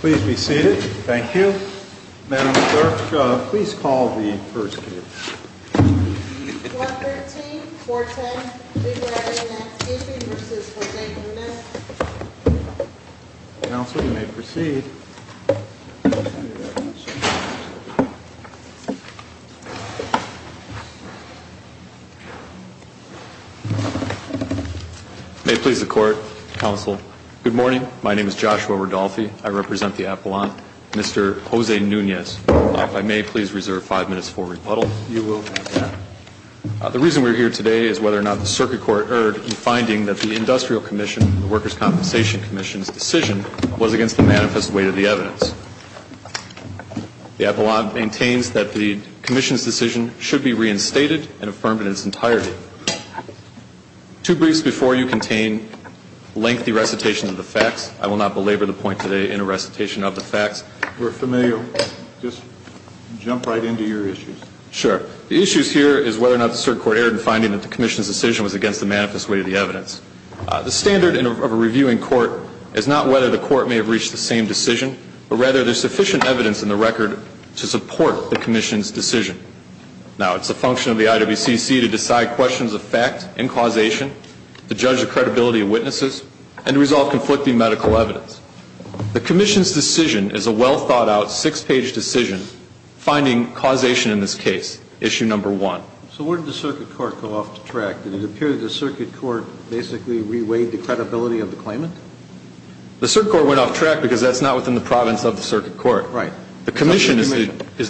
Please be seated. Thank you. Madam Clerk, please call the first case. 113.410. Big Right In Landscaping v. J. Lewis Counsel, you may proceed. May it please the Court, Counsel. Good morning. My name is Joshua Ridolfi. I represent the Appellant, Mr. Jose Nunez. If I may, please reserve five minutes for rebuttal. You will have that. The reason we're here today is whether or not the Circuit Court erred in finding that the Industrial Commission, the Workers' Compensation Commission's decision was against the manifest weight of the evidence. The Appellant maintains that the Commission's decision should be reinstated and affirmed in its entirety. Two briefs before you contain lengthy recitations of the facts. I will not belabor the point today in a recitation of the facts. We're familiar. Just jump right into your issues. Sure. The issues here is whether or not the Circuit Court erred in finding that the Commission's decision was against the manifest weight of the evidence. The standard of a reviewing court is not whether the court may have reached the same decision, but rather there's sufficient evidence in the record to support the Commission's decision. Now, it's a function of the IWCC to decide questions of fact and causation, to judge the credibility of witnesses, and to resolve conflicting medical evidence. The Commission's decision is a well-thought-out six-page decision finding causation in this case, issue number one. So where did the Circuit Court go off the track? Did it appear that the Circuit Court basically reweighed the credibility of the claimant? The Circuit Court went off track because that's not within the province of the Circuit Court. Right. The Commission is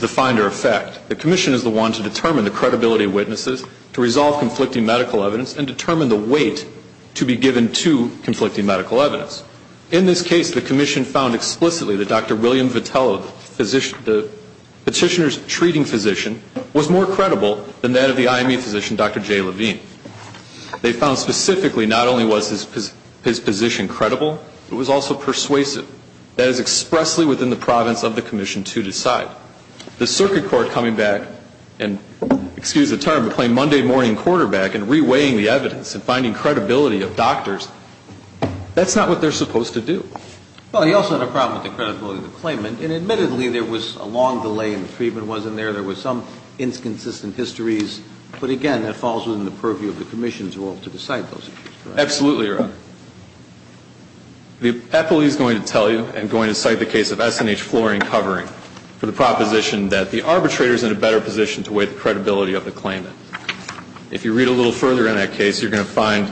the finder of fact. The Commission is the one to determine the credibility of witnesses, to resolve conflicting medical evidence, and determine the weight to be given to conflicting medical evidence. In this case, the Commission found explicitly that Dr. William Vitello, the petitioner's treating physician, was more credible than that of the IME physician, Dr. Jay Levine. They found specifically not only was his position credible, it was also persuasive. That is expressly within the province of the Commission to decide. The Circuit Court coming back and, excuse the term, playing Monday morning quarterback and reweighing the evidence and finding credibility of doctors, that's not what they're supposed to do. Well, he also had a problem with the credibility of the claimant. And admittedly, there was a long delay and the treatment wasn't there. There was some inconsistent histories. But again, that falls within the purview of the Commission to decide those issues. Absolutely, Your Honor. The appellee is going to tell you and going to cite the case of S&H Flooring Covering for the proposition that the arbitrator is in a better position to weigh the credibility of the claimant. If you read a little further in that case, you're going to find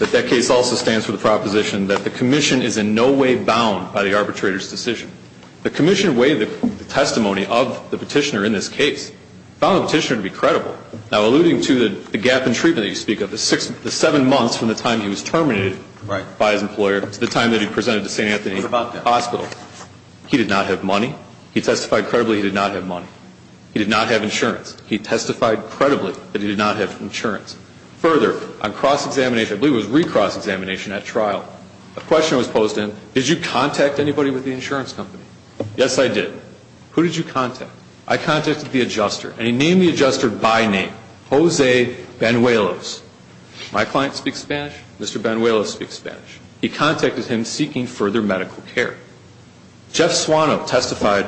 that that case also stands for the proposition that the Commission is in no way bound by the arbitrator's decision. The Commission weighed the testimony of the petitioner in this case, found the petitioner to be credible. Now, alluding to the gap in treatment that you speak of, the seven months from the time he was terminated by his employer to the time that he presented to St. Anthony Hospital, he did not have money. He testified credibly he did not have money. He did not have insurance. He testified credibly that he did not have insurance. Further, on cross-examination, I believe it was re-cross-examination at trial, a question was posed then, did you contact anybody with the insurance company? Yes, I did. Who did you contact? I contacted the adjuster, and he named the adjuster by name, Jose Banuelos. My client speaks Spanish. Mr. Banuelos speaks Spanish. He contacted him seeking further medical care. Jeff Suano testified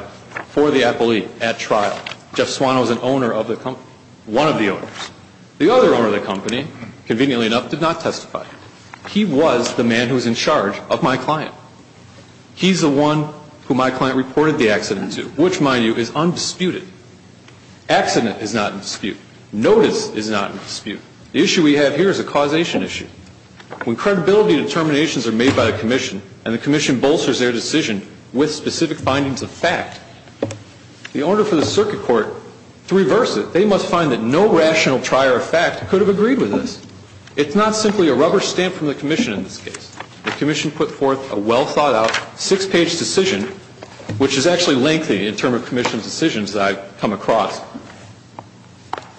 for the appellee at trial. Jeff Suano is an owner of the company, one of the owners. The other owner of the company, conveniently enough, did not testify. He was the man who was in charge of my client. He's the one who my client reported the accident to, which, mind you, is undisputed. Accident is not in dispute. Notice is not in dispute. The issue we have here is a causation issue. When credibility determinations are made by a commission, and the commission bolsters their decision with specific findings of fact, the order for the circuit court to reverse it, they must find that no rational trier of fact could have agreed with this. It's not simply a rubber stamp from the commission in this case. The commission put forth a well-thought-out, six-page decision, which is actually lengthy in terms of commission decisions that I've come across.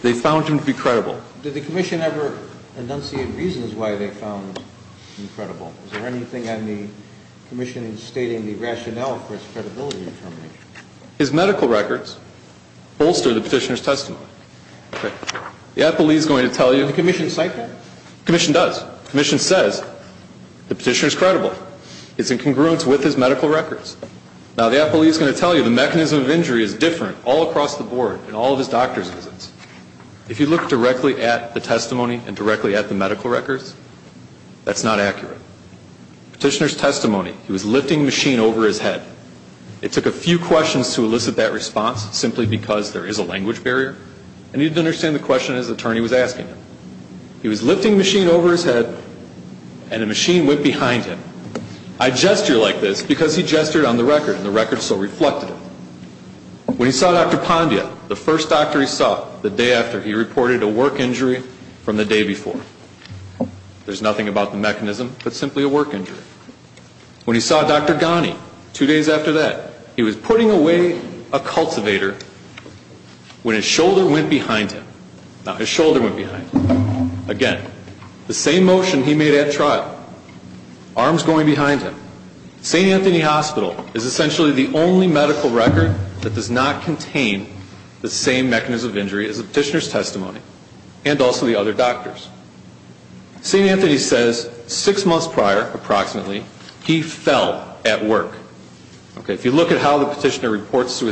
They found him to be credible. Did the commission ever enunciate reasons why they found him credible? Is there anything on the commission stating the rationale for its credibility determination? His medical records bolster the petitioner's testimony. The appellee is going to tell you the mechanism of injury is different all across the board in all of his doctor's visits. If you look directly at the testimony and directly at the medical records, that's not accurate. Petitioner's testimony, he was lifting the machine over his head. It took a few questions to elicit that response simply because there is a language barrier, and he didn't understand the question his attorney was asking him. He was lifting the machine over his head, and the machine went behind him. I gesture like this because he gestured on the record, and the record so reflected it. When he saw Dr. Pandya, the first doctor he saw the day after, he reported a work injury from the day before. There's nothing about the mechanism, but simply a work injury. When he saw Dr. Ghani, two days after that, he was putting away a cultivator when his shoulder went behind him. Again, the same motion he made at trial. Arms going behind him. St. Anthony Hospital is essentially the only medical record that does not contain the same mechanism of injury as the petitioner's testimony, and also the other doctors. St. Anthony says six months prior, approximately, he fell at work. If you look at how the emergency room was, there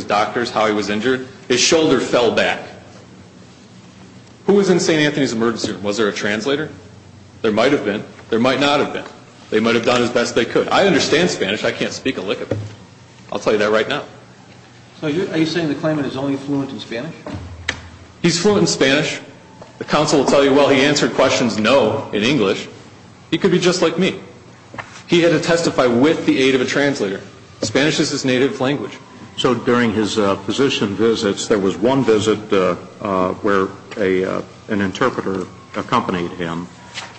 was a translator. There might have been. There might not have been. They might have done as best they could. I understand Spanish. I can't speak a lick of it. I'll tell you that right now. So are you saying the claimant is only fluent in Spanish? He's fluent in Spanish. The counsel will tell you, well, he answered questions no in English. He could be just like me. He had to testify with the aid of a translator. Spanish is his native language. So during his physician visits, there was one visit where an interpreter accompanied him.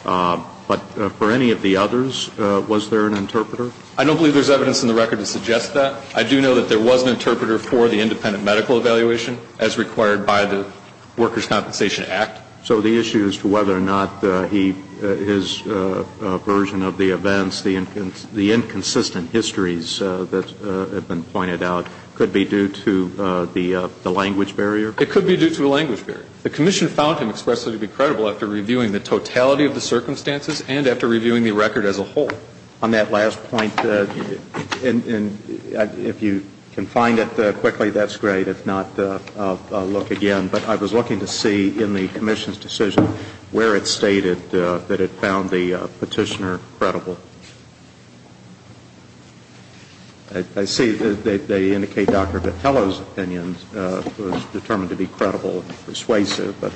But for any of the others, was there an interpreter? I don't believe there's evidence in the record to suggest that. I do know that there was an interpreter for the independent medical evaluation, as required by the Workers' Compensation Act. So the issue as to whether or not he, his version of the events, the inconsistent histories that have been pointed out, could be due to the language barrier? It could be due to a language barrier. The commission found him expressly to be credible after reviewing the totality of the circumstances and after reviewing the record as a whole. On that last point, if you can find it quickly, that's great. If not, I'll look again. But I was looking to see in the commission's decision where it stated that it found the I see that they indicate Dr. Vitello's opinion was determined to be credible and persuasive. But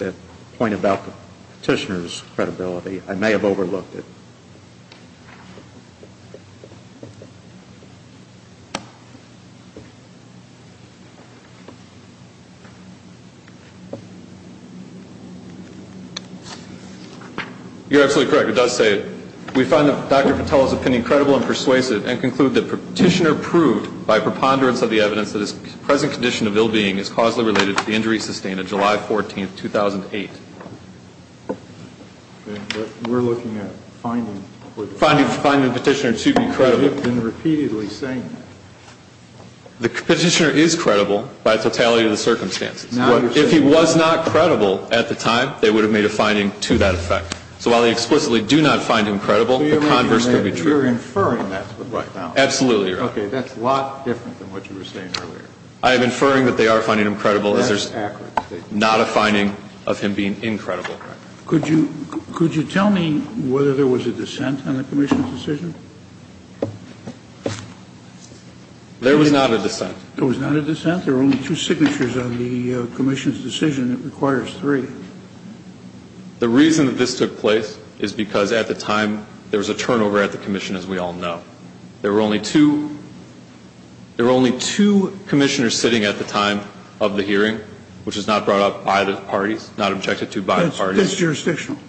the point about the petitioner's credibility, I may have overlooked it. You're absolutely correct. It does say, we find Dr. Vitello's opinion credible and persuasive and conclude that the petitioner proved by preponderance of the evidence that his present condition of ill-being is causally related to the injury sustained on July 14, 2008. We're looking at finding the petitioner to be credible. The petitioner is credible by totality of the circumstances. If he was not credible at the time, they would have made a finding to that effect. So while they explicitly do not find him credible, the converse could be true. You're inferring that. Absolutely. That's a lot different than what you were saying earlier. I am inferring that they are finding him credible. That's accurate. Not a finding of him being incredible. Could you tell me whether there was a dissent on the commission's decision? There was not a dissent. There was not a dissent? There were only two signatures on the commission's decision. It requires three. The reason that this took place is because at the time, there was a turnover at the commission, as we all know. There were only two commissioners sitting at the time of the hearing, which was not brought up by the parties, not objected to by the parties. That's jurisdictional,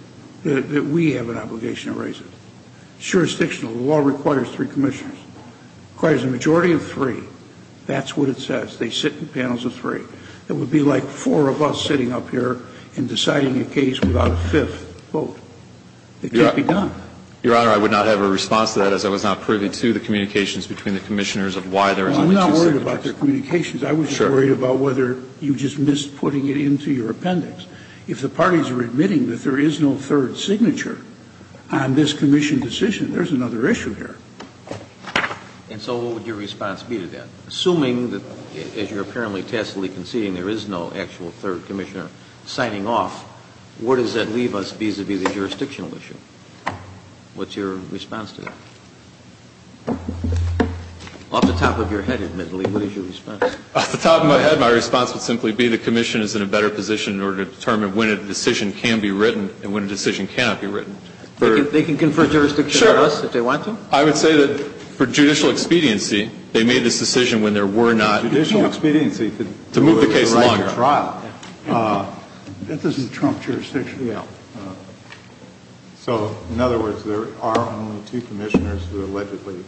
that we have an obligation to raise it. It's jurisdictional. The law requires three commissioners. It requires a majority of three. That's what it says. They sit in panels of three. It would be like four of us sitting up here and deciding a case without a fifth vote. It can't be done. Your Honor, I would not have a response to that, as I was not privy to the communications between the commissioners of why there was only two signatures. I'm not worried about their communications. I would be worried about whether you just missed putting it into your appendix. If the parties are admitting that there is no third signature on this commission decision, there's another issue here. And so what would your response be to that? Assuming that, as you're apparently tacitly conceding, there is no actual third commissioner signing off, where does that leave us vis-à-vis the jurisdictional issue? What's your response to that? Off the top of your head, admittedly, what is your response? Off the top of my head, my response would simply be the commission is in a better position in order to determine when a decision can be written and when a decision cannot be written. They can confer jurisdiction on us if they want to? Sure. I would say that for judicial expediency, they made this decision when there were not judicial expediency to move the case along. That doesn't trump jurisdiction. So, in other words, there are only two commissioners who allegedly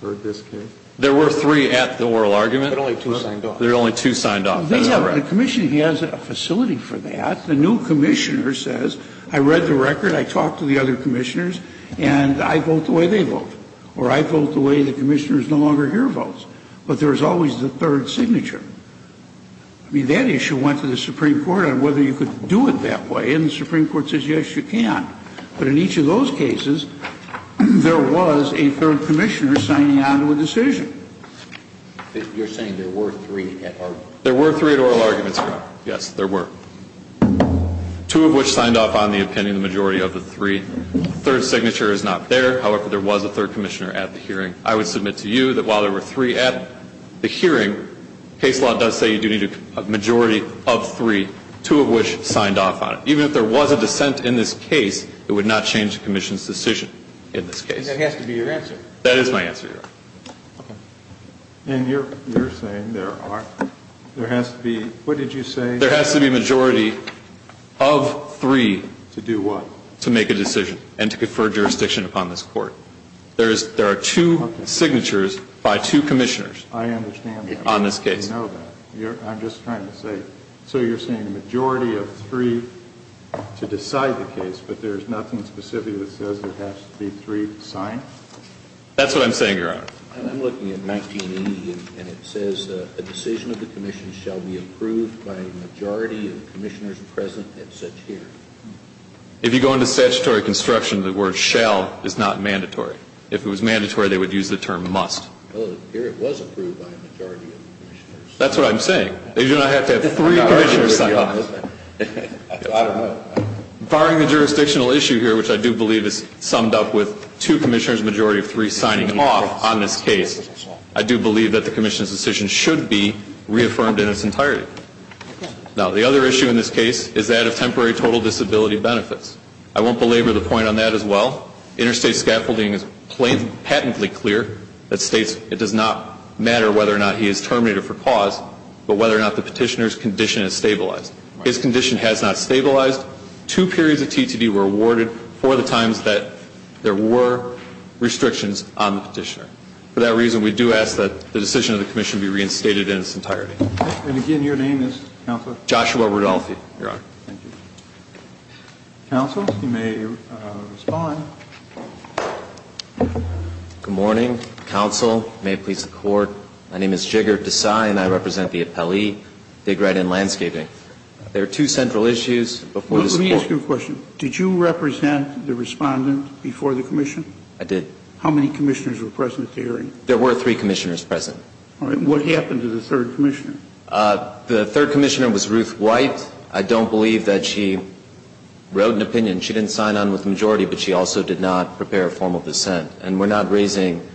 conferred this case? There were three at the oral argument. There are only two signed off. There are only two signed off. The commission has a facility for that. The new commissioner says, I read the record, I talked to the other commissioners, and I vote the way they vote. Or I vote the way the commissioners no longer hear votes. But there's always the third signature. I mean, that issue went to the Supreme Court on whether you could do it that way. And the Supreme Court says, yes, you can. But in each of those cases, there was a third commissioner signing on to a decision. You're saying there were three at oral? There were three at oral arguments, Your Honor. Yes, there were. Two of which signed off on the opinion of the majority of the three. The third signature is not there. However, there was a third commissioner at the hearing. I would submit to you that while there were three at the hearing, case law does say you do need a majority of three, two of which signed off on it. Even if there was a dissent in this case, it would not change the commission's That has to be your answer. That is my answer, Your Honor. And you're saying there are, there has to be, what did you say? There has to be a majority of three. To do what? To make a decision and to confer jurisdiction upon this court. There are two signatures by two commissioners. I understand that. On this case. I know that. I'm just trying to say, so you're saying a majority of three to decide the case, but there's nothing specifically that says there has to be three signed? That's what I'm saying, Your Honor. I'm looking at 1980, and it says a decision of the commission shall be approved by a majority of the commissioners present at such hearing. If you go into statutory construction, the word shall is not mandatory. If it was mandatory, they would use the term must. Well, here it was approved by a majority of the commissioners. That's what I'm saying. They do not have to have three commissioners sign off. I don't know. Barring the jurisdictional issue here, which I do believe is summed up with two commissioners and a majority of three signing off on this case, I do believe that the commission's decision should be reaffirmed in its entirety. Now, the other issue in this case is that of temporary total disability benefits. I won't belabor the point on that as well. Interstate scaffolding is patently clear that states it does not matter whether or not he is terminated for cause, but whether or not the petitioner's condition is stabilized. His condition has not stabilized. In the last two periods of TTD were awarded for the times that there were restrictions on the petitioner. For that reason, we do ask that the decision of the commission be reinstated in its entirety. And, again, your name is, Counselor? Joshua Rudolfi, Your Honor. Thank you. Counsel, you may respond. Good morning, Counsel. May it please the Court. My name is Jigar Desai, and I represent the appellee, Big Red and Landscaping. There are two central issues before this Court. Let me ask you a question. Did you represent the respondent before the commission? I did. How many commissioners were present at the hearing? There were three commissioners present. All right. What happened to the third commissioner? The third commissioner was Ruth White. I don't believe that she wrote an opinion. She didn't sign on with the majority, but she also did not prepare a formal dissent. And we're not raising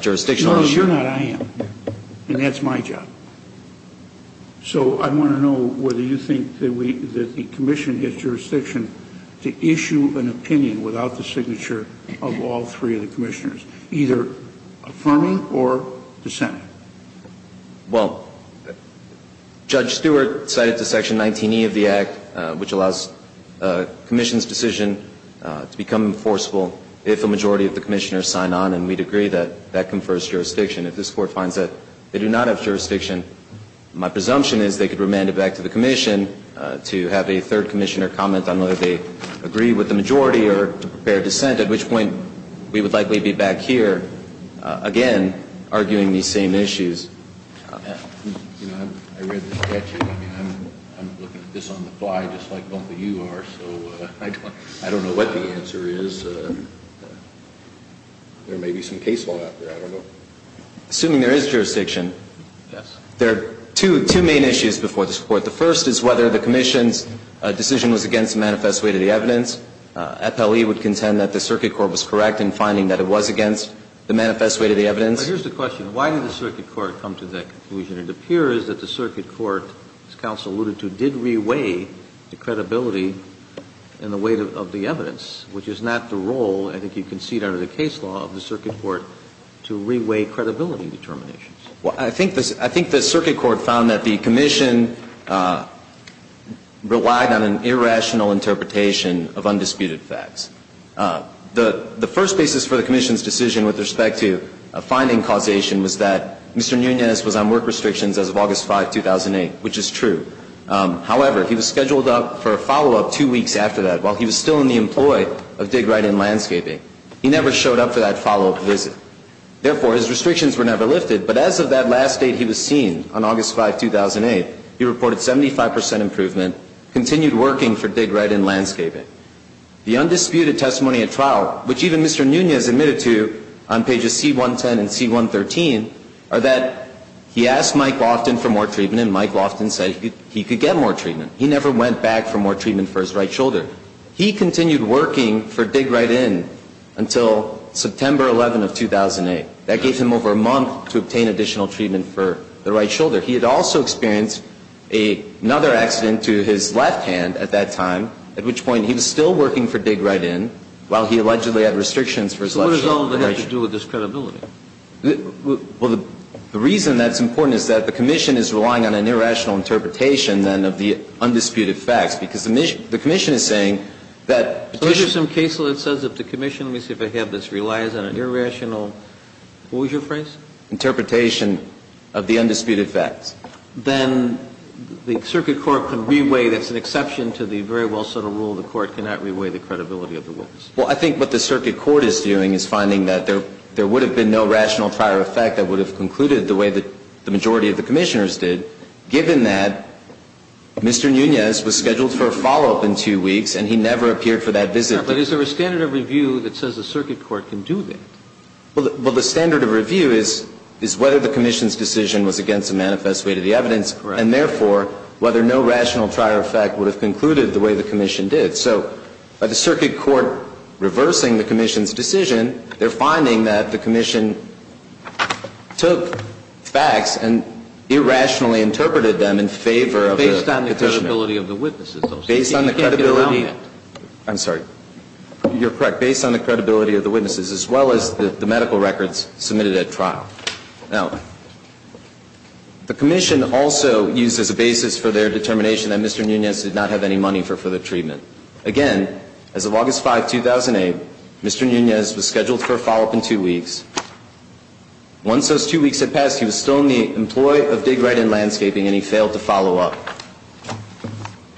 jurisdictional issues. No, you're not. I am. And that's my job. So I want to know whether you think that we, that the commission has jurisdiction to issue an opinion without the signature of all three of the commissioners, either affirming or dissenting. Well, Judge Stewart cited the Section 19E of the Act, which allows a commission's decision to become enforceable if a majority of the commissioners sign on, and we'd agree that that confers jurisdiction. If this court finds that they do not have jurisdiction, my presumption is they could remand it back to the commission to have a third commissioner comment on whether they agree with the majority or prepare a dissent, at which point we would likely be back here again arguing these same issues. You know, I read the statute. I mean, I'm looking at this on the fly just like both of you are, so I don't know what the answer is. There may be some case law out there. I don't know. Assuming there is jurisdiction, there are two main issues before this Court. The first is whether the commission's decision was against the manifest weight of the evidence. FLE would contend that the circuit court was correct in finding that it was against the manifest weight of the evidence. But here's the question. Why did the circuit court come to that conclusion? It appears that the circuit court, as counsel alluded to, did reweigh the credibility and the weight of the evidence, which is not the role, I think you can see it under the case law, of the circuit court to reweigh credibility determinations. Well, I think the circuit court found that the commission relied on an irrational interpretation of undisputed facts. The first basis for the commission's decision with respect to a finding causation was that Mr. Nunez was on work restrictions as of August 5, 2008, which is true. However, he was scheduled up for a follow-up two weeks after that while he was still in the employ of Dig Right In Landscaping. He never showed up for that follow-up visit. Therefore, his restrictions were never lifted. But as of that last date he was seen, on August 5, 2008, he reported 75 percent improvement, continued working for Dig Right In Landscaping. The undisputed testimony at trial, which even Mr. Nunez admitted to on pages C-110 and C-113, are that he asked Mike Loftin for more treatment, and Mike Loftin said he could get more treatment. He never went back for more treatment for his right shoulder. He continued working for Dig Right In until September 11 of 2008. That gave him over a month to obtain additional treatment for the right shoulder. He had also experienced another accident to his left hand at that time, at which point he was still working for Dig Right In while he allegedly had restrictions for his left shoulder. So what does all of that have to do with this credibility? Well, the reason that's important is that the commission is relying on an irrational interpretation, then, of the undisputed facts, because the commission is saying that the commission ---- So there's some case law that says if the commission, let me see if I have this, relies on an irrational, what was your phrase? Interpretation of the undisputed facts. Then the circuit court can reweigh, that's an exception to the very well-settled rule, the court cannot reweigh the credibility of the witness. Well, I think what the circuit court is doing is finding that there would have been no rational prior effect that would have concluded the way that the majority of the commissioners did, given that Mr. Nunez was scheduled for a follow-up in two weeks and he never appeared for that visit. But is there a standard of review that says the circuit court can do that? Well, the standard of review is whether the commission's decision was against a manifest way to the evidence and, therefore, whether no rational prior effect would have concluded the way the commission did. So by the circuit court reversing the commission's decision, they're finding that the commission took facts and irrationally interpreted them in favor of the petitioner. Based on the credibility of the witnesses, though. Based on the credibility. You can't get around that. I'm sorry. You're correct. Based on the credibility of the witnesses, as well as the medical records submitted at trial. Now, the commission also used as a basis for their determination that Mr. Nunez did not have any money for further treatment. Again, as of August 5, 2008, Mr. Nunez was scheduled for a follow-up in two weeks. Once those two weeks had passed, he was still in the employ of Dig Right and Landscaping and he failed to follow up.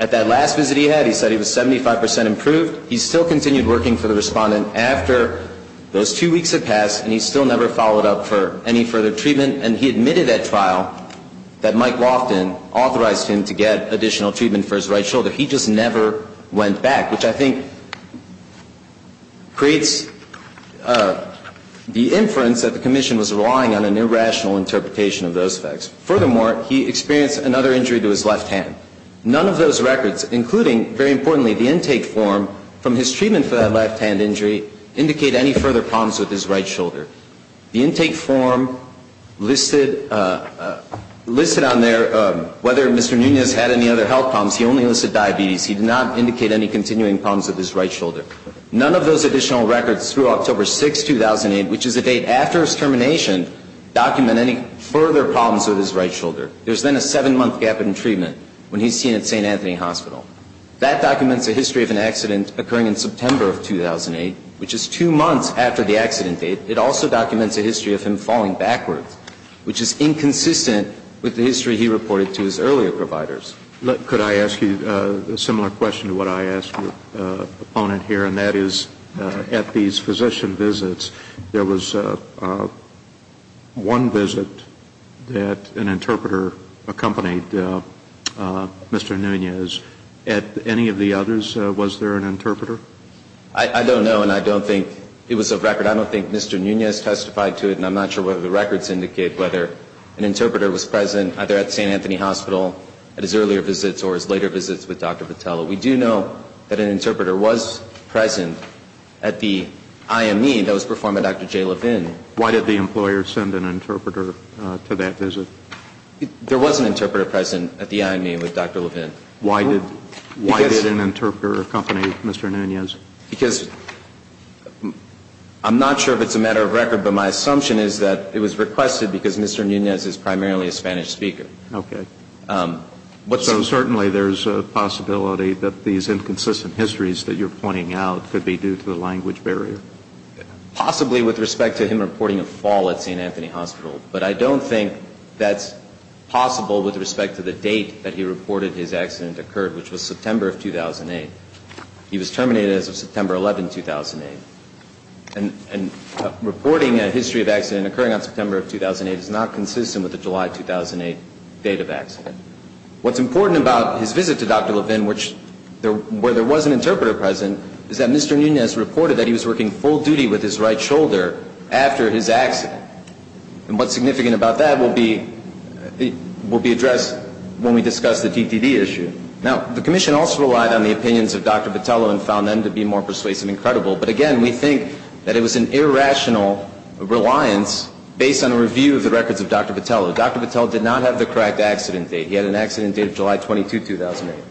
At that last visit he had, he said he was 75% improved. He still continued working for the respondent after those two weeks had passed and he still never followed up for any further treatment. And he admitted at trial that Mike Loftin authorized him to get additional treatment for his right shoulder. So he just never went back, which I think creates the inference that the commission was relying on an irrational interpretation of those facts. Furthermore, he experienced another injury to his left hand. None of those records, including, very importantly, the intake form from his treatment for that left hand injury, indicate any further problems with his right shoulder. The intake form listed on there whether Mr. Nunez had any other health problems. He only listed diabetes. He did not indicate any continuing problems with his right shoulder. None of those additional records through October 6, 2008, which is the date after his termination, document any further problems with his right shoulder. There's then a seven-month gap in treatment when he's seen at St. Anthony Hospital. That documents a history of an accident occurring in September of 2008, which is two months after the accident date. It also documents a history of him falling backwards, which is inconsistent with the history he reported to his earlier providers. Could I ask you a similar question to what I asked your opponent here? And that is, at these physician visits, there was one visit that an interpreter accompanied Mr. Nunez. At any of the others, was there an interpreter? I don't know. And I don't think it was a record. I don't think Mr. Nunez testified to it. And I'm not sure whether the records indicate whether an interpreter was present either at St. Anthony Hospital at his earlier visits or his later visits with Dr. Vitello. We do know that an interpreter was present at the IME that was performed by Dr. Jay Levin. Why did the employer send an interpreter to that visit? There was an interpreter present at the IME with Dr. Levin. Why did an interpreter accompany Mr. Nunez? Because I'm not sure if it's a matter of record, but my assumption is that it was Okay. So certainly there's a possibility that these inconsistent histories that you're pointing out could be due to the language barrier? Possibly with respect to him reporting a fall at St. Anthony Hospital. But I don't think that's possible with respect to the date that he reported his accident occurred, which was September of 2008. He was terminated as of September 11, 2008. And reporting a history of accident occurring on September of 2008 is not consistent with the July 2008 date of accident. What's important about his visit to Dr. Levin, where there was an interpreter present, is that Mr. Nunez reported that he was working full duty with his right shoulder after his accident. And what's significant about that will be addressed when we discuss the TTD issue. Now, the commission also relied on the opinions of Dr. Vitello and found them to be more persuasive and credible. But again, we think that it was an irrational reliance based on a review of the records of Dr. Vitello. Dr. Vitello did not have the correct accident date. He had an accident date of July 22, 2008.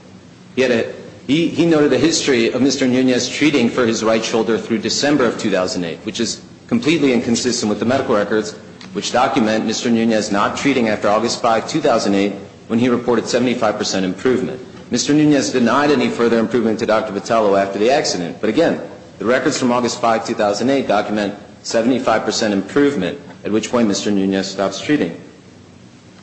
He noted a history of Mr. Nunez treating for his right shoulder through December of 2008, which is completely inconsistent with the medical records, which document Mr. Nunez not treating after August 5, 2008, when he reported 75 percent improvement. Mr. Nunez denied any further improvement to Dr. Vitello after the accident. But again, the records from August 5, 2008 document 75 percent improvement, at which point Mr. Nunez stops treating.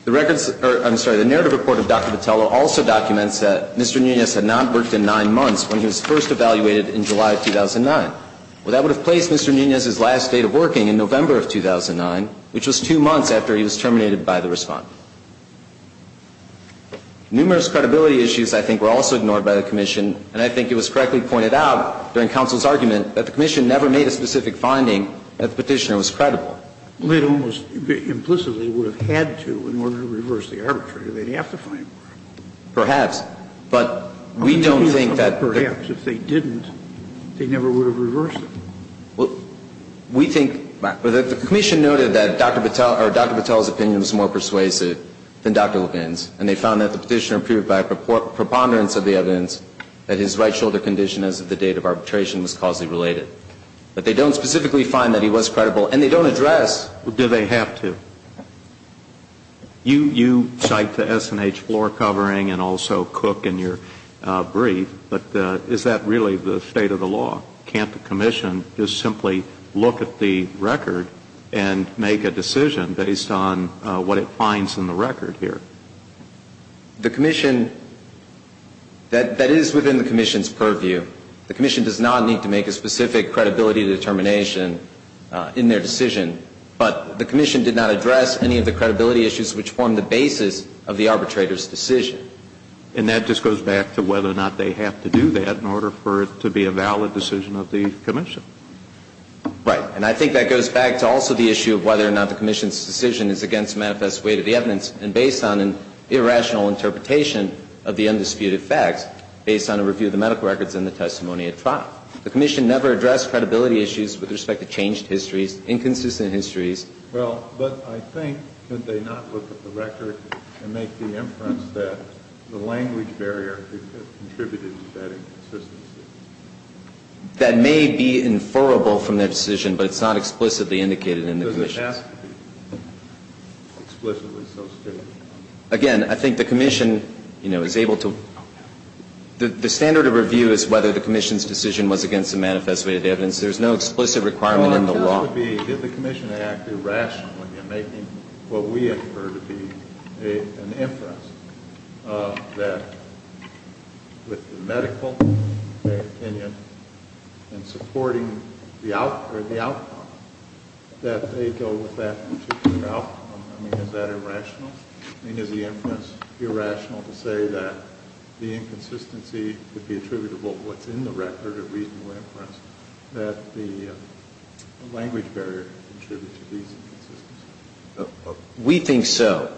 The records or, I'm sorry, the narrative report of Dr. Vitello also documents that Mr. Nunez had not worked in nine months when he was first evaluated in July of 2009. Well, that would have placed Mr. Nunez's last date of working in November of 2009, which was two months after he was terminated by the respondent. Numerous credibility issues, I think, were also ignored by the commission, and I think it was correctly pointed out during counsel's argument that the commission never made a specific finding that the petitioner was credible. Well, it almost implicitly would have had to in order to reverse the arbitrator. They'd have to find more. Perhaps. But we don't think that the commission noted that Dr. Vitello's opinion was more persuasive than Dr. Levin's, and they found that the petitioner proved by preponderance of the evidence that his right shoulder condition as of the date of arbitration was causally related. But they don't specifically find that he was credible, and they don't address Do they have to? You cite the S&H floor covering and also Cook in your brief, but is that really the state of the law? Can't the commission just simply look at the record and make a decision based on what it finds in the record here? The commission, that is within the commission's purview. The commission does not need to make a specific credibility determination in their decision, but the commission did not address any of the credibility issues which form the basis of the arbitrator's decision. And that just goes back to whether or not they have to do that in order for it to be a valid decision of the commission. Right. And I think that goes back to also the issue of whether or not the commission's decision is against manifest way to the evidence and based on an irrational interpretation of the undisputed facts based on a review of the medical records and the testimony of trial. The commission never addressed credibility issues with respect to changed histories, inconsistent histories. Well, but I think could they not look at the record and make the inference that the language barrier contributed to that inconsistency? That may be inferrable from their decision, but it's not explicitly indicated in the commission's. Does it have to be explicitly so stated? Again, I think the commission, you know, is able to, the standard of review is whether the commission's decision was against the manifest way to the evidence. There's no explicit requirement in the law. Well, I'm curious to be, did the commission act irrationally in making what we infer to be an inference that with the medical opinion and supporting the outcome, that they go with that particular outcome? I mean, is that irrational? I mean, is the inference irrational to say that the inconsistency could be attributable to what's in the record of reasonable inference, that the language barrier contributed to these inconsistencies? We think so.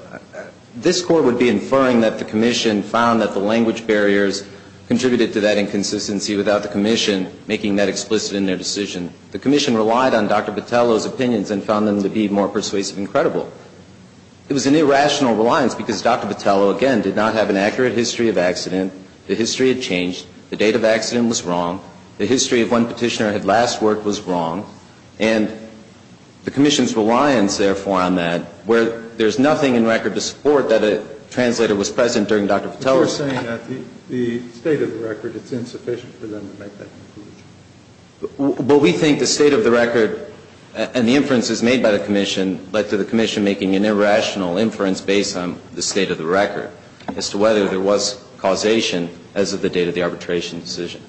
This Court would be inferring that the commission found that the language barriers contributed to that inconsistency without the commission making that explicit in their decision. The commission relied on Dr. Patello's opinions and found them to be more persuasive and credible. It was an irrational reliance because Dr. Patello, again, did not have an accurate history of accident. The history had changed. The date of accident was wrong. The history of when petitioner had last worked was wrong. And the commission's reliance, therefore, on that, where there's nothing in record to support that a translator was present during Dr. Patello's time. But you're saying that the state of the record, it's insufficient for them to make that conclusion. Well, we think the state of the record and the inferences made by the commission led to the commission making an irrational inference based on the state of the record as to whether there was causation as of the date of the arbitration decision.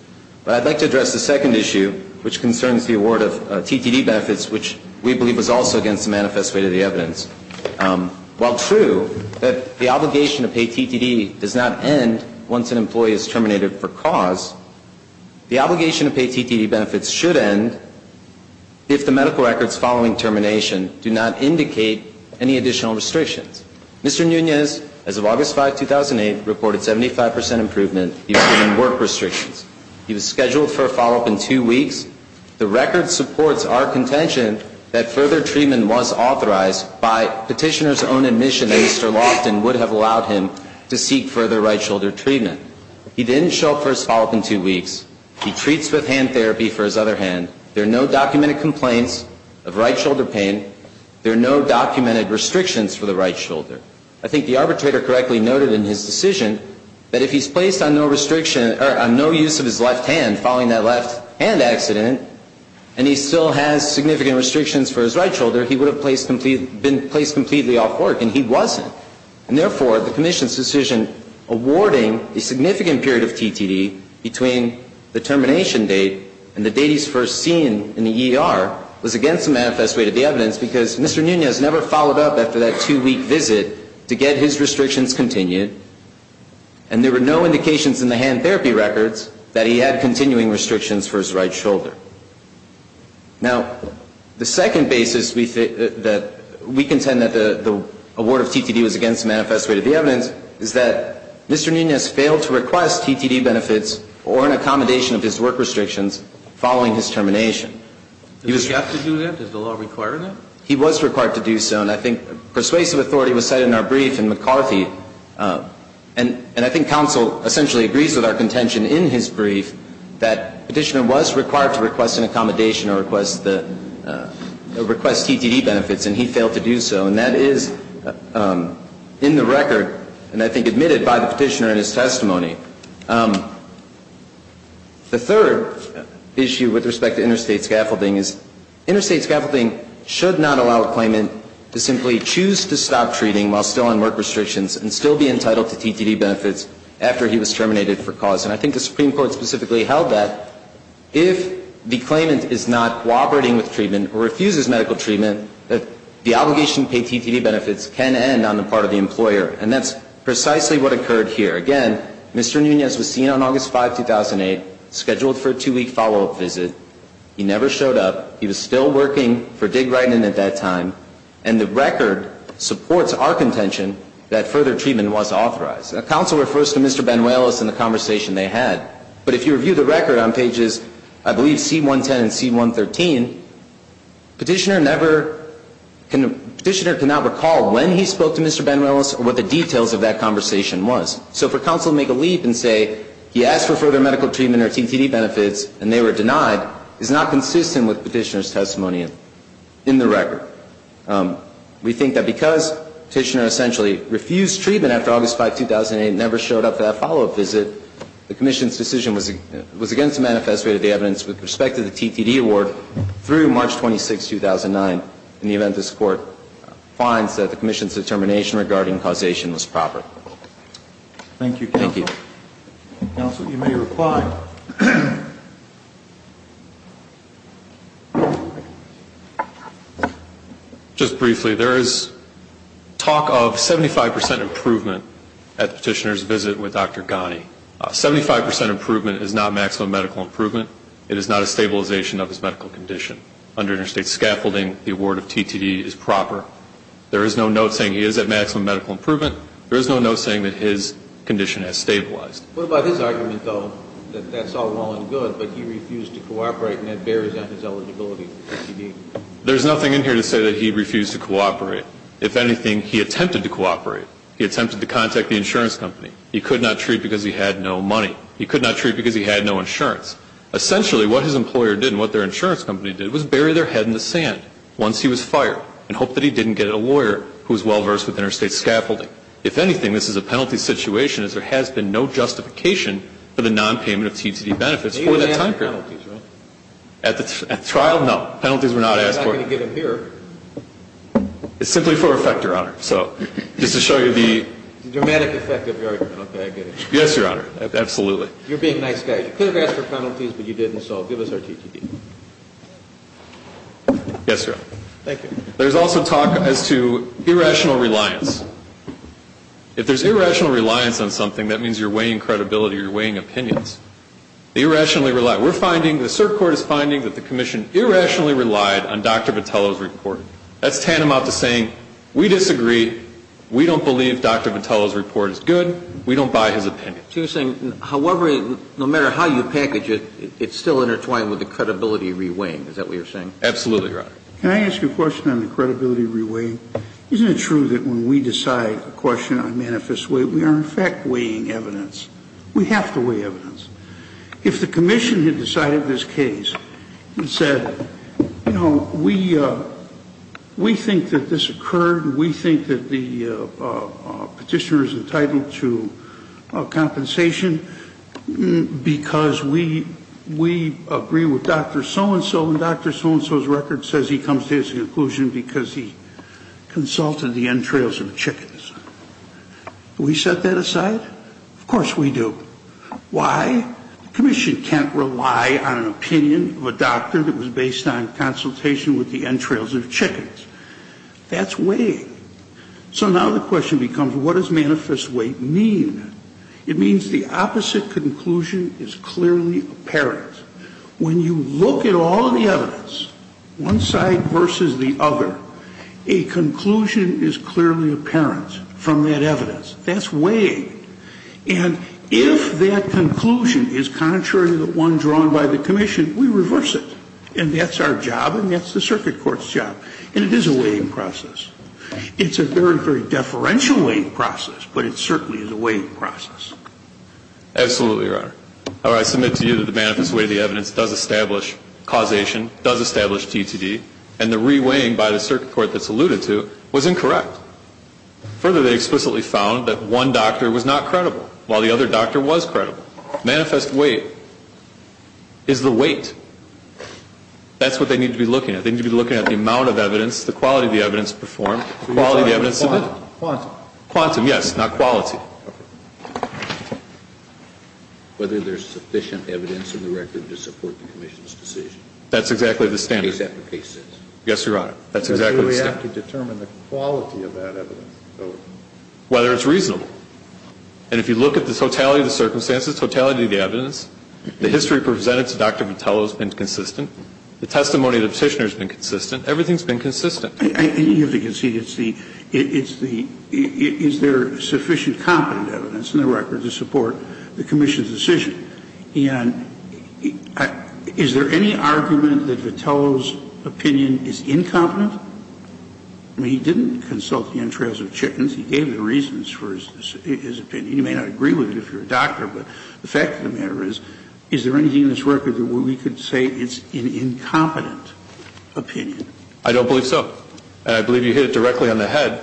But I'd like to address the second issue, which concerns the award of TTD benefits, which we believe was also against the manifest way to the evidence. While true that the obligation to pay TTD does not end once an employee is terminated for cause, the obligation to pay TTD benefits should end if the medical records following termination do not indicate any additional restrictions. Mr. Nunez, as of August 5, 2008, reported 75% improvement in work restrictions. He was scheduled for a follow-up in two weeks. The record supports our contention that further treatment was authorized by petitioner's own admission that Mr. Loftin would have allowed him to seek further right shoulder treatment. He didn't show up for his follow-up in two weeks. He treats with hand therapy for his other hand. There are no documented complaints of right shoulder pain. There are no documented restrictions for the right shoulder. I think the arbitrator correctly noted in his decision that if he's placed on no restriction or on no use of his left hand following that left hand accident and he still has significant restrictions for his right shoulder, he would have been placed completely off work, and he wasn't. And therefore, the commission's decision awarding a significant period of TTD between the termination date and the date he's first seen in the ER was against the manifest way to the evidence because Mr. Nunez never followed up after that two-week visit to get his restrictions continued, and there were no indications in the hand therapy records that he had continuing restrictions for his right shoulder. Now, the second basis that we contend that the award of TTD was against the manifest way to the evidence is that Mr. Nunez failed to request TTD benefits or an accommodation of his work restrictions following his termination. He was... Did he have to do that? Does the law require that? He was required to do so, and I think persuasive authority was cited in our brief in McCarthy, and I think counsel essentially agrees with our contention in his brief that petitioner was required to request an accommodation or request TTD benefits, and he failed to do so, and that is in the record, and I think admitted by the petitioner in his testimony. The third issue with respect to interstate scaffolding is interstate scaffolding should not allow a claimant to simply choose to stop treating while still on work restrictions and still be entitled to TTD benefits after he was terminated for cause. And I think the Supreme Court specifically held that if the claimant is not cooperating with treatment or refuses medical treatment, that the obligation to pay TTD benefits can end on the part of the employer, and that's precisely what occurred here. Again, Mr. Nunez was seen on August 5, 2008, scheduled for a two-week follow-up visit. He never showed up. He was still working for Digg-Wrighton at that time, and the record supports our contention that further treatment was authorized. Counsel refers to Mr. Banuelos and the conversation they had. But if you review the record on pages, I believe, C-110 and C-113, petitioner never, petitioner cannot recall when he spoke to Mr. Banuelos or what the details of that conversation was. So for counsel to make a leap and say he asked for further medical treatment or TTD benefits and they were denied is not consistent with petitioner's testimony in the record. We think that because petitioner essentially refused treatment after August 5, 2008 and never showed up for that follow-up visit, the commission's decision was against the manifest way of the evidence with respect to the TTD award through March 26, 2009, in the event this Court finds that the commission's determination regarding causation was proper. Thank you, counsel. Thank you. Counsel, you may reply. Just briefly, there is talk of 75 percent improvement at the petitioner's visit with Dr. Ghani. Seventy-five percent improvement is not maximum medical improvement. It is not a stabilization of his medical condition. Under interstate scaffolding, the award of TTD is proper. There is no note saying he is at maximum medical improvement. There is no note saying that his condition has stabilized. What about his argument, though, that that's all well and good, but he refused to cooperate and that bears on his eligibility for TTD? There is nothing in here to say that he refused to cooperate. If anything, he attempted to cooperate. He attempted to contact the insurance company. He could not treat because he had no money. He could not treat because he had no insurance. Essentially, what his employer did and what their insurance company did was bury their head in the sand once he was fired and hoped that he didn't get a lawyer who was scaffolding. If anything, this is a penalty situation as there has been no justification for the nonpayment of TTD benefits for that time period. At the trial, no. Penalties were not asked for. It's simply for effect, Your Honor. So just to show you the dramatic effect of your argument. Okay, I get it. Yes, Your Honor. Absolutely. You're being a nice guy. You could have asked for penalties, but you didn't, so give us our TTD. Yes, Your Honor. Thank you. There's also talk as to irrational reliance. If there's irrational reliance on something, that means you're weighing credibility, you're weighing opinions. Irrationally relied. We're finding, the circuit court is finding that the commission irrationally relied on Dr. Vitello's report. That's tantamount to saying we disagree, we don't believe Dr. Vitello's report is good, we don't buy his opinion. So you're saying, however, no matter how you package it, it's still intertwined with the credibility reweighing, is that what you're saying? Absolutely, Your Honor. Can I ask you a question on the credibility reweighing? Isn't it true that when we decide a question on manifest weight, we are, in fact, weighing evidence? We have to weigh evidence. If the commission had decided this case and said, you know, we think that this occurred, we think that the Petitioner is entitled to compensation because we agree with Dr. Vitello, and so and so's record says he comes to his conclusion because he consulted the entrails of chickens. Do we set that aside? Of course we do. Why? The commission can't rely on an opinion of a doctor that was based on consultation with the entrails of chickens. That's weighing. So now the question becomes, what does manifest weight mean? It means the opposite conclusion is clearly apparent. When you look at all of the evidence, one side versus the other, a conclusion is clearly apparent from that evidence. That's weighing. And if that conclusion is contrary to the one drawn by the commission, we reverse it, and that's our job and that's the circuit court's job, and it is a weighing process. It's a very, very deferential weighing process, but it certainly is a weighing process. Absolutely, Your Honor. However, I submit to you that the manifest weight of the evidence does establish causation, does establish TTD, and the re-weighing by the circuit court that's alluded to was incorrect. Further, they explicitly found that one doctor was not credible while the other doctor was credible. Manifest weight is the weight. That's what they need to be looking at. They need to be looking at the amount of evidence, the quality of the evidence performed, the quality of the evidence submitted. Quantum. Quantum, yes, not quality. Quantum. Okay. Whether there's sufficient evidence in the record to support the commission's decision. That's exactly the standard. Case after case. Yes, Your Honor. That's exactly the standard. Do we have to determine the quality of that evidence? Whether it's reasonable. And if you look at the totality of the circumstances, totality of the evidence, the history presented to Dr. Vitello has been consistent. The testimony of the Petitioner has been consistent. Everything has been consistent. And you have to concede it's the, it's the, is there sufficient competent evidence in the record to support the commission's decision? And is there any argument that Vitello's opinion is incompetent? I mean, he didn't consult the entrails of chickens. He gave the reasons for his opinion. You may not agree with it if you're a doctor, but the fact of the matter is, is there anything in this record where we could say it's an incompetent opinion? I don't believe so. And I believe you hit it directly on the head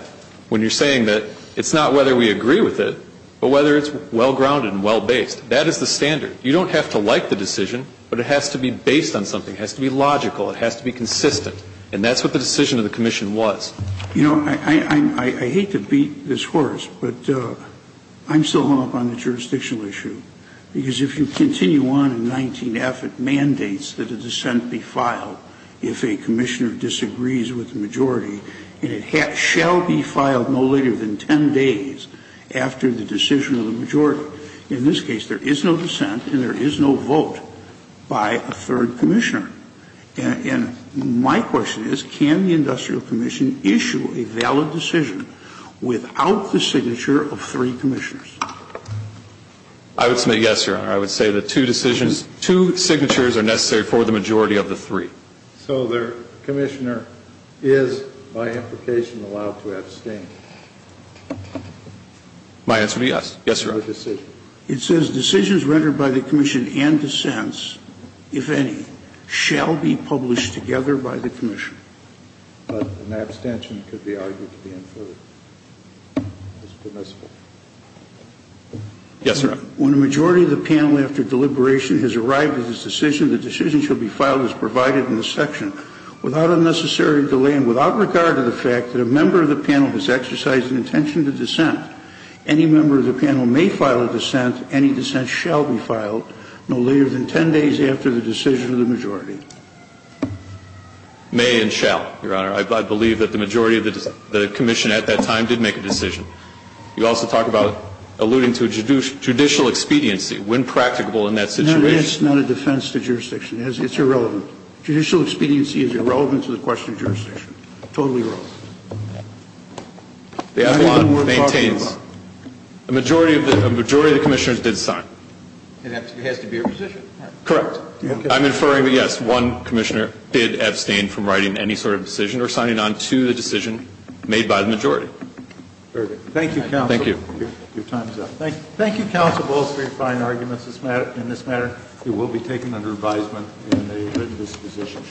when you're saying that it's not whether we agree with it, but whether it's well-grounded and well-based. That is the standard. You don't have to like the decision, but it has to be based on something. It has to be logical. It has to be consistent. And that's what the decision of the commission was. You know, I hate to beat this horse, but I'm still hung up on the jurisdictional issue. And I'm not going to argue that it's an incompetent opinion. I'm going to argue that it's a valid decision. Because if you continue on in 19F, it mandates that a dissent be filed if a commissioner disagrees with the majority, and it shall be filed no later than 10 days after the decision of the majority. In this case, there is no dissent and there is no vote by a third commissioner. And my question is, can the industrial commission issue a valid decision without the signature of three commissioners? I would say yes, Your Honor. I would say the two decisions, two signatures are necessary for the majority of the three. So the commissioner is, by implication, allowed to abstain. My answer would be yes. Yes, Your Honor. It says decisions rendered by the commission and dissents, if any, shall be published together by the commission. But an abstention could be argued to be inferred as permissible. Yes, Your Honor. When a majority of the panel, after deliberation, has arrived at its decision, the decision shall be filed as provided in this section without unnecessary delay and without regard to the fact that a member of the panel has exercised an intention to dissent. Any member of the panel may file a dissent. Any dissent shall be filed no later than 10 days after the decision of the majority. May and shall, Your Honor. I believe that the majority of the commission at that time did make a decision. You also talk about alluding to judicial expediency when practicable in that situation. It's not a defense to jurisdiction. It's irrelevant. Judicial expediency is irrelevant to the question of jurisdiction. Totally irrelevant. The Avalon maintains a majority of the commissioners did sign. It has to be a position. Correct. I'm inferring that, yes, one commissioner did abstain from writing any sort of decision or signing on to the decision made by the majority. Very good. Thank you, counsel. Thank you. Your time is up. Thank you, counsel, both for your fine arguments in this matter. It will be taken under advisement in a written disposition.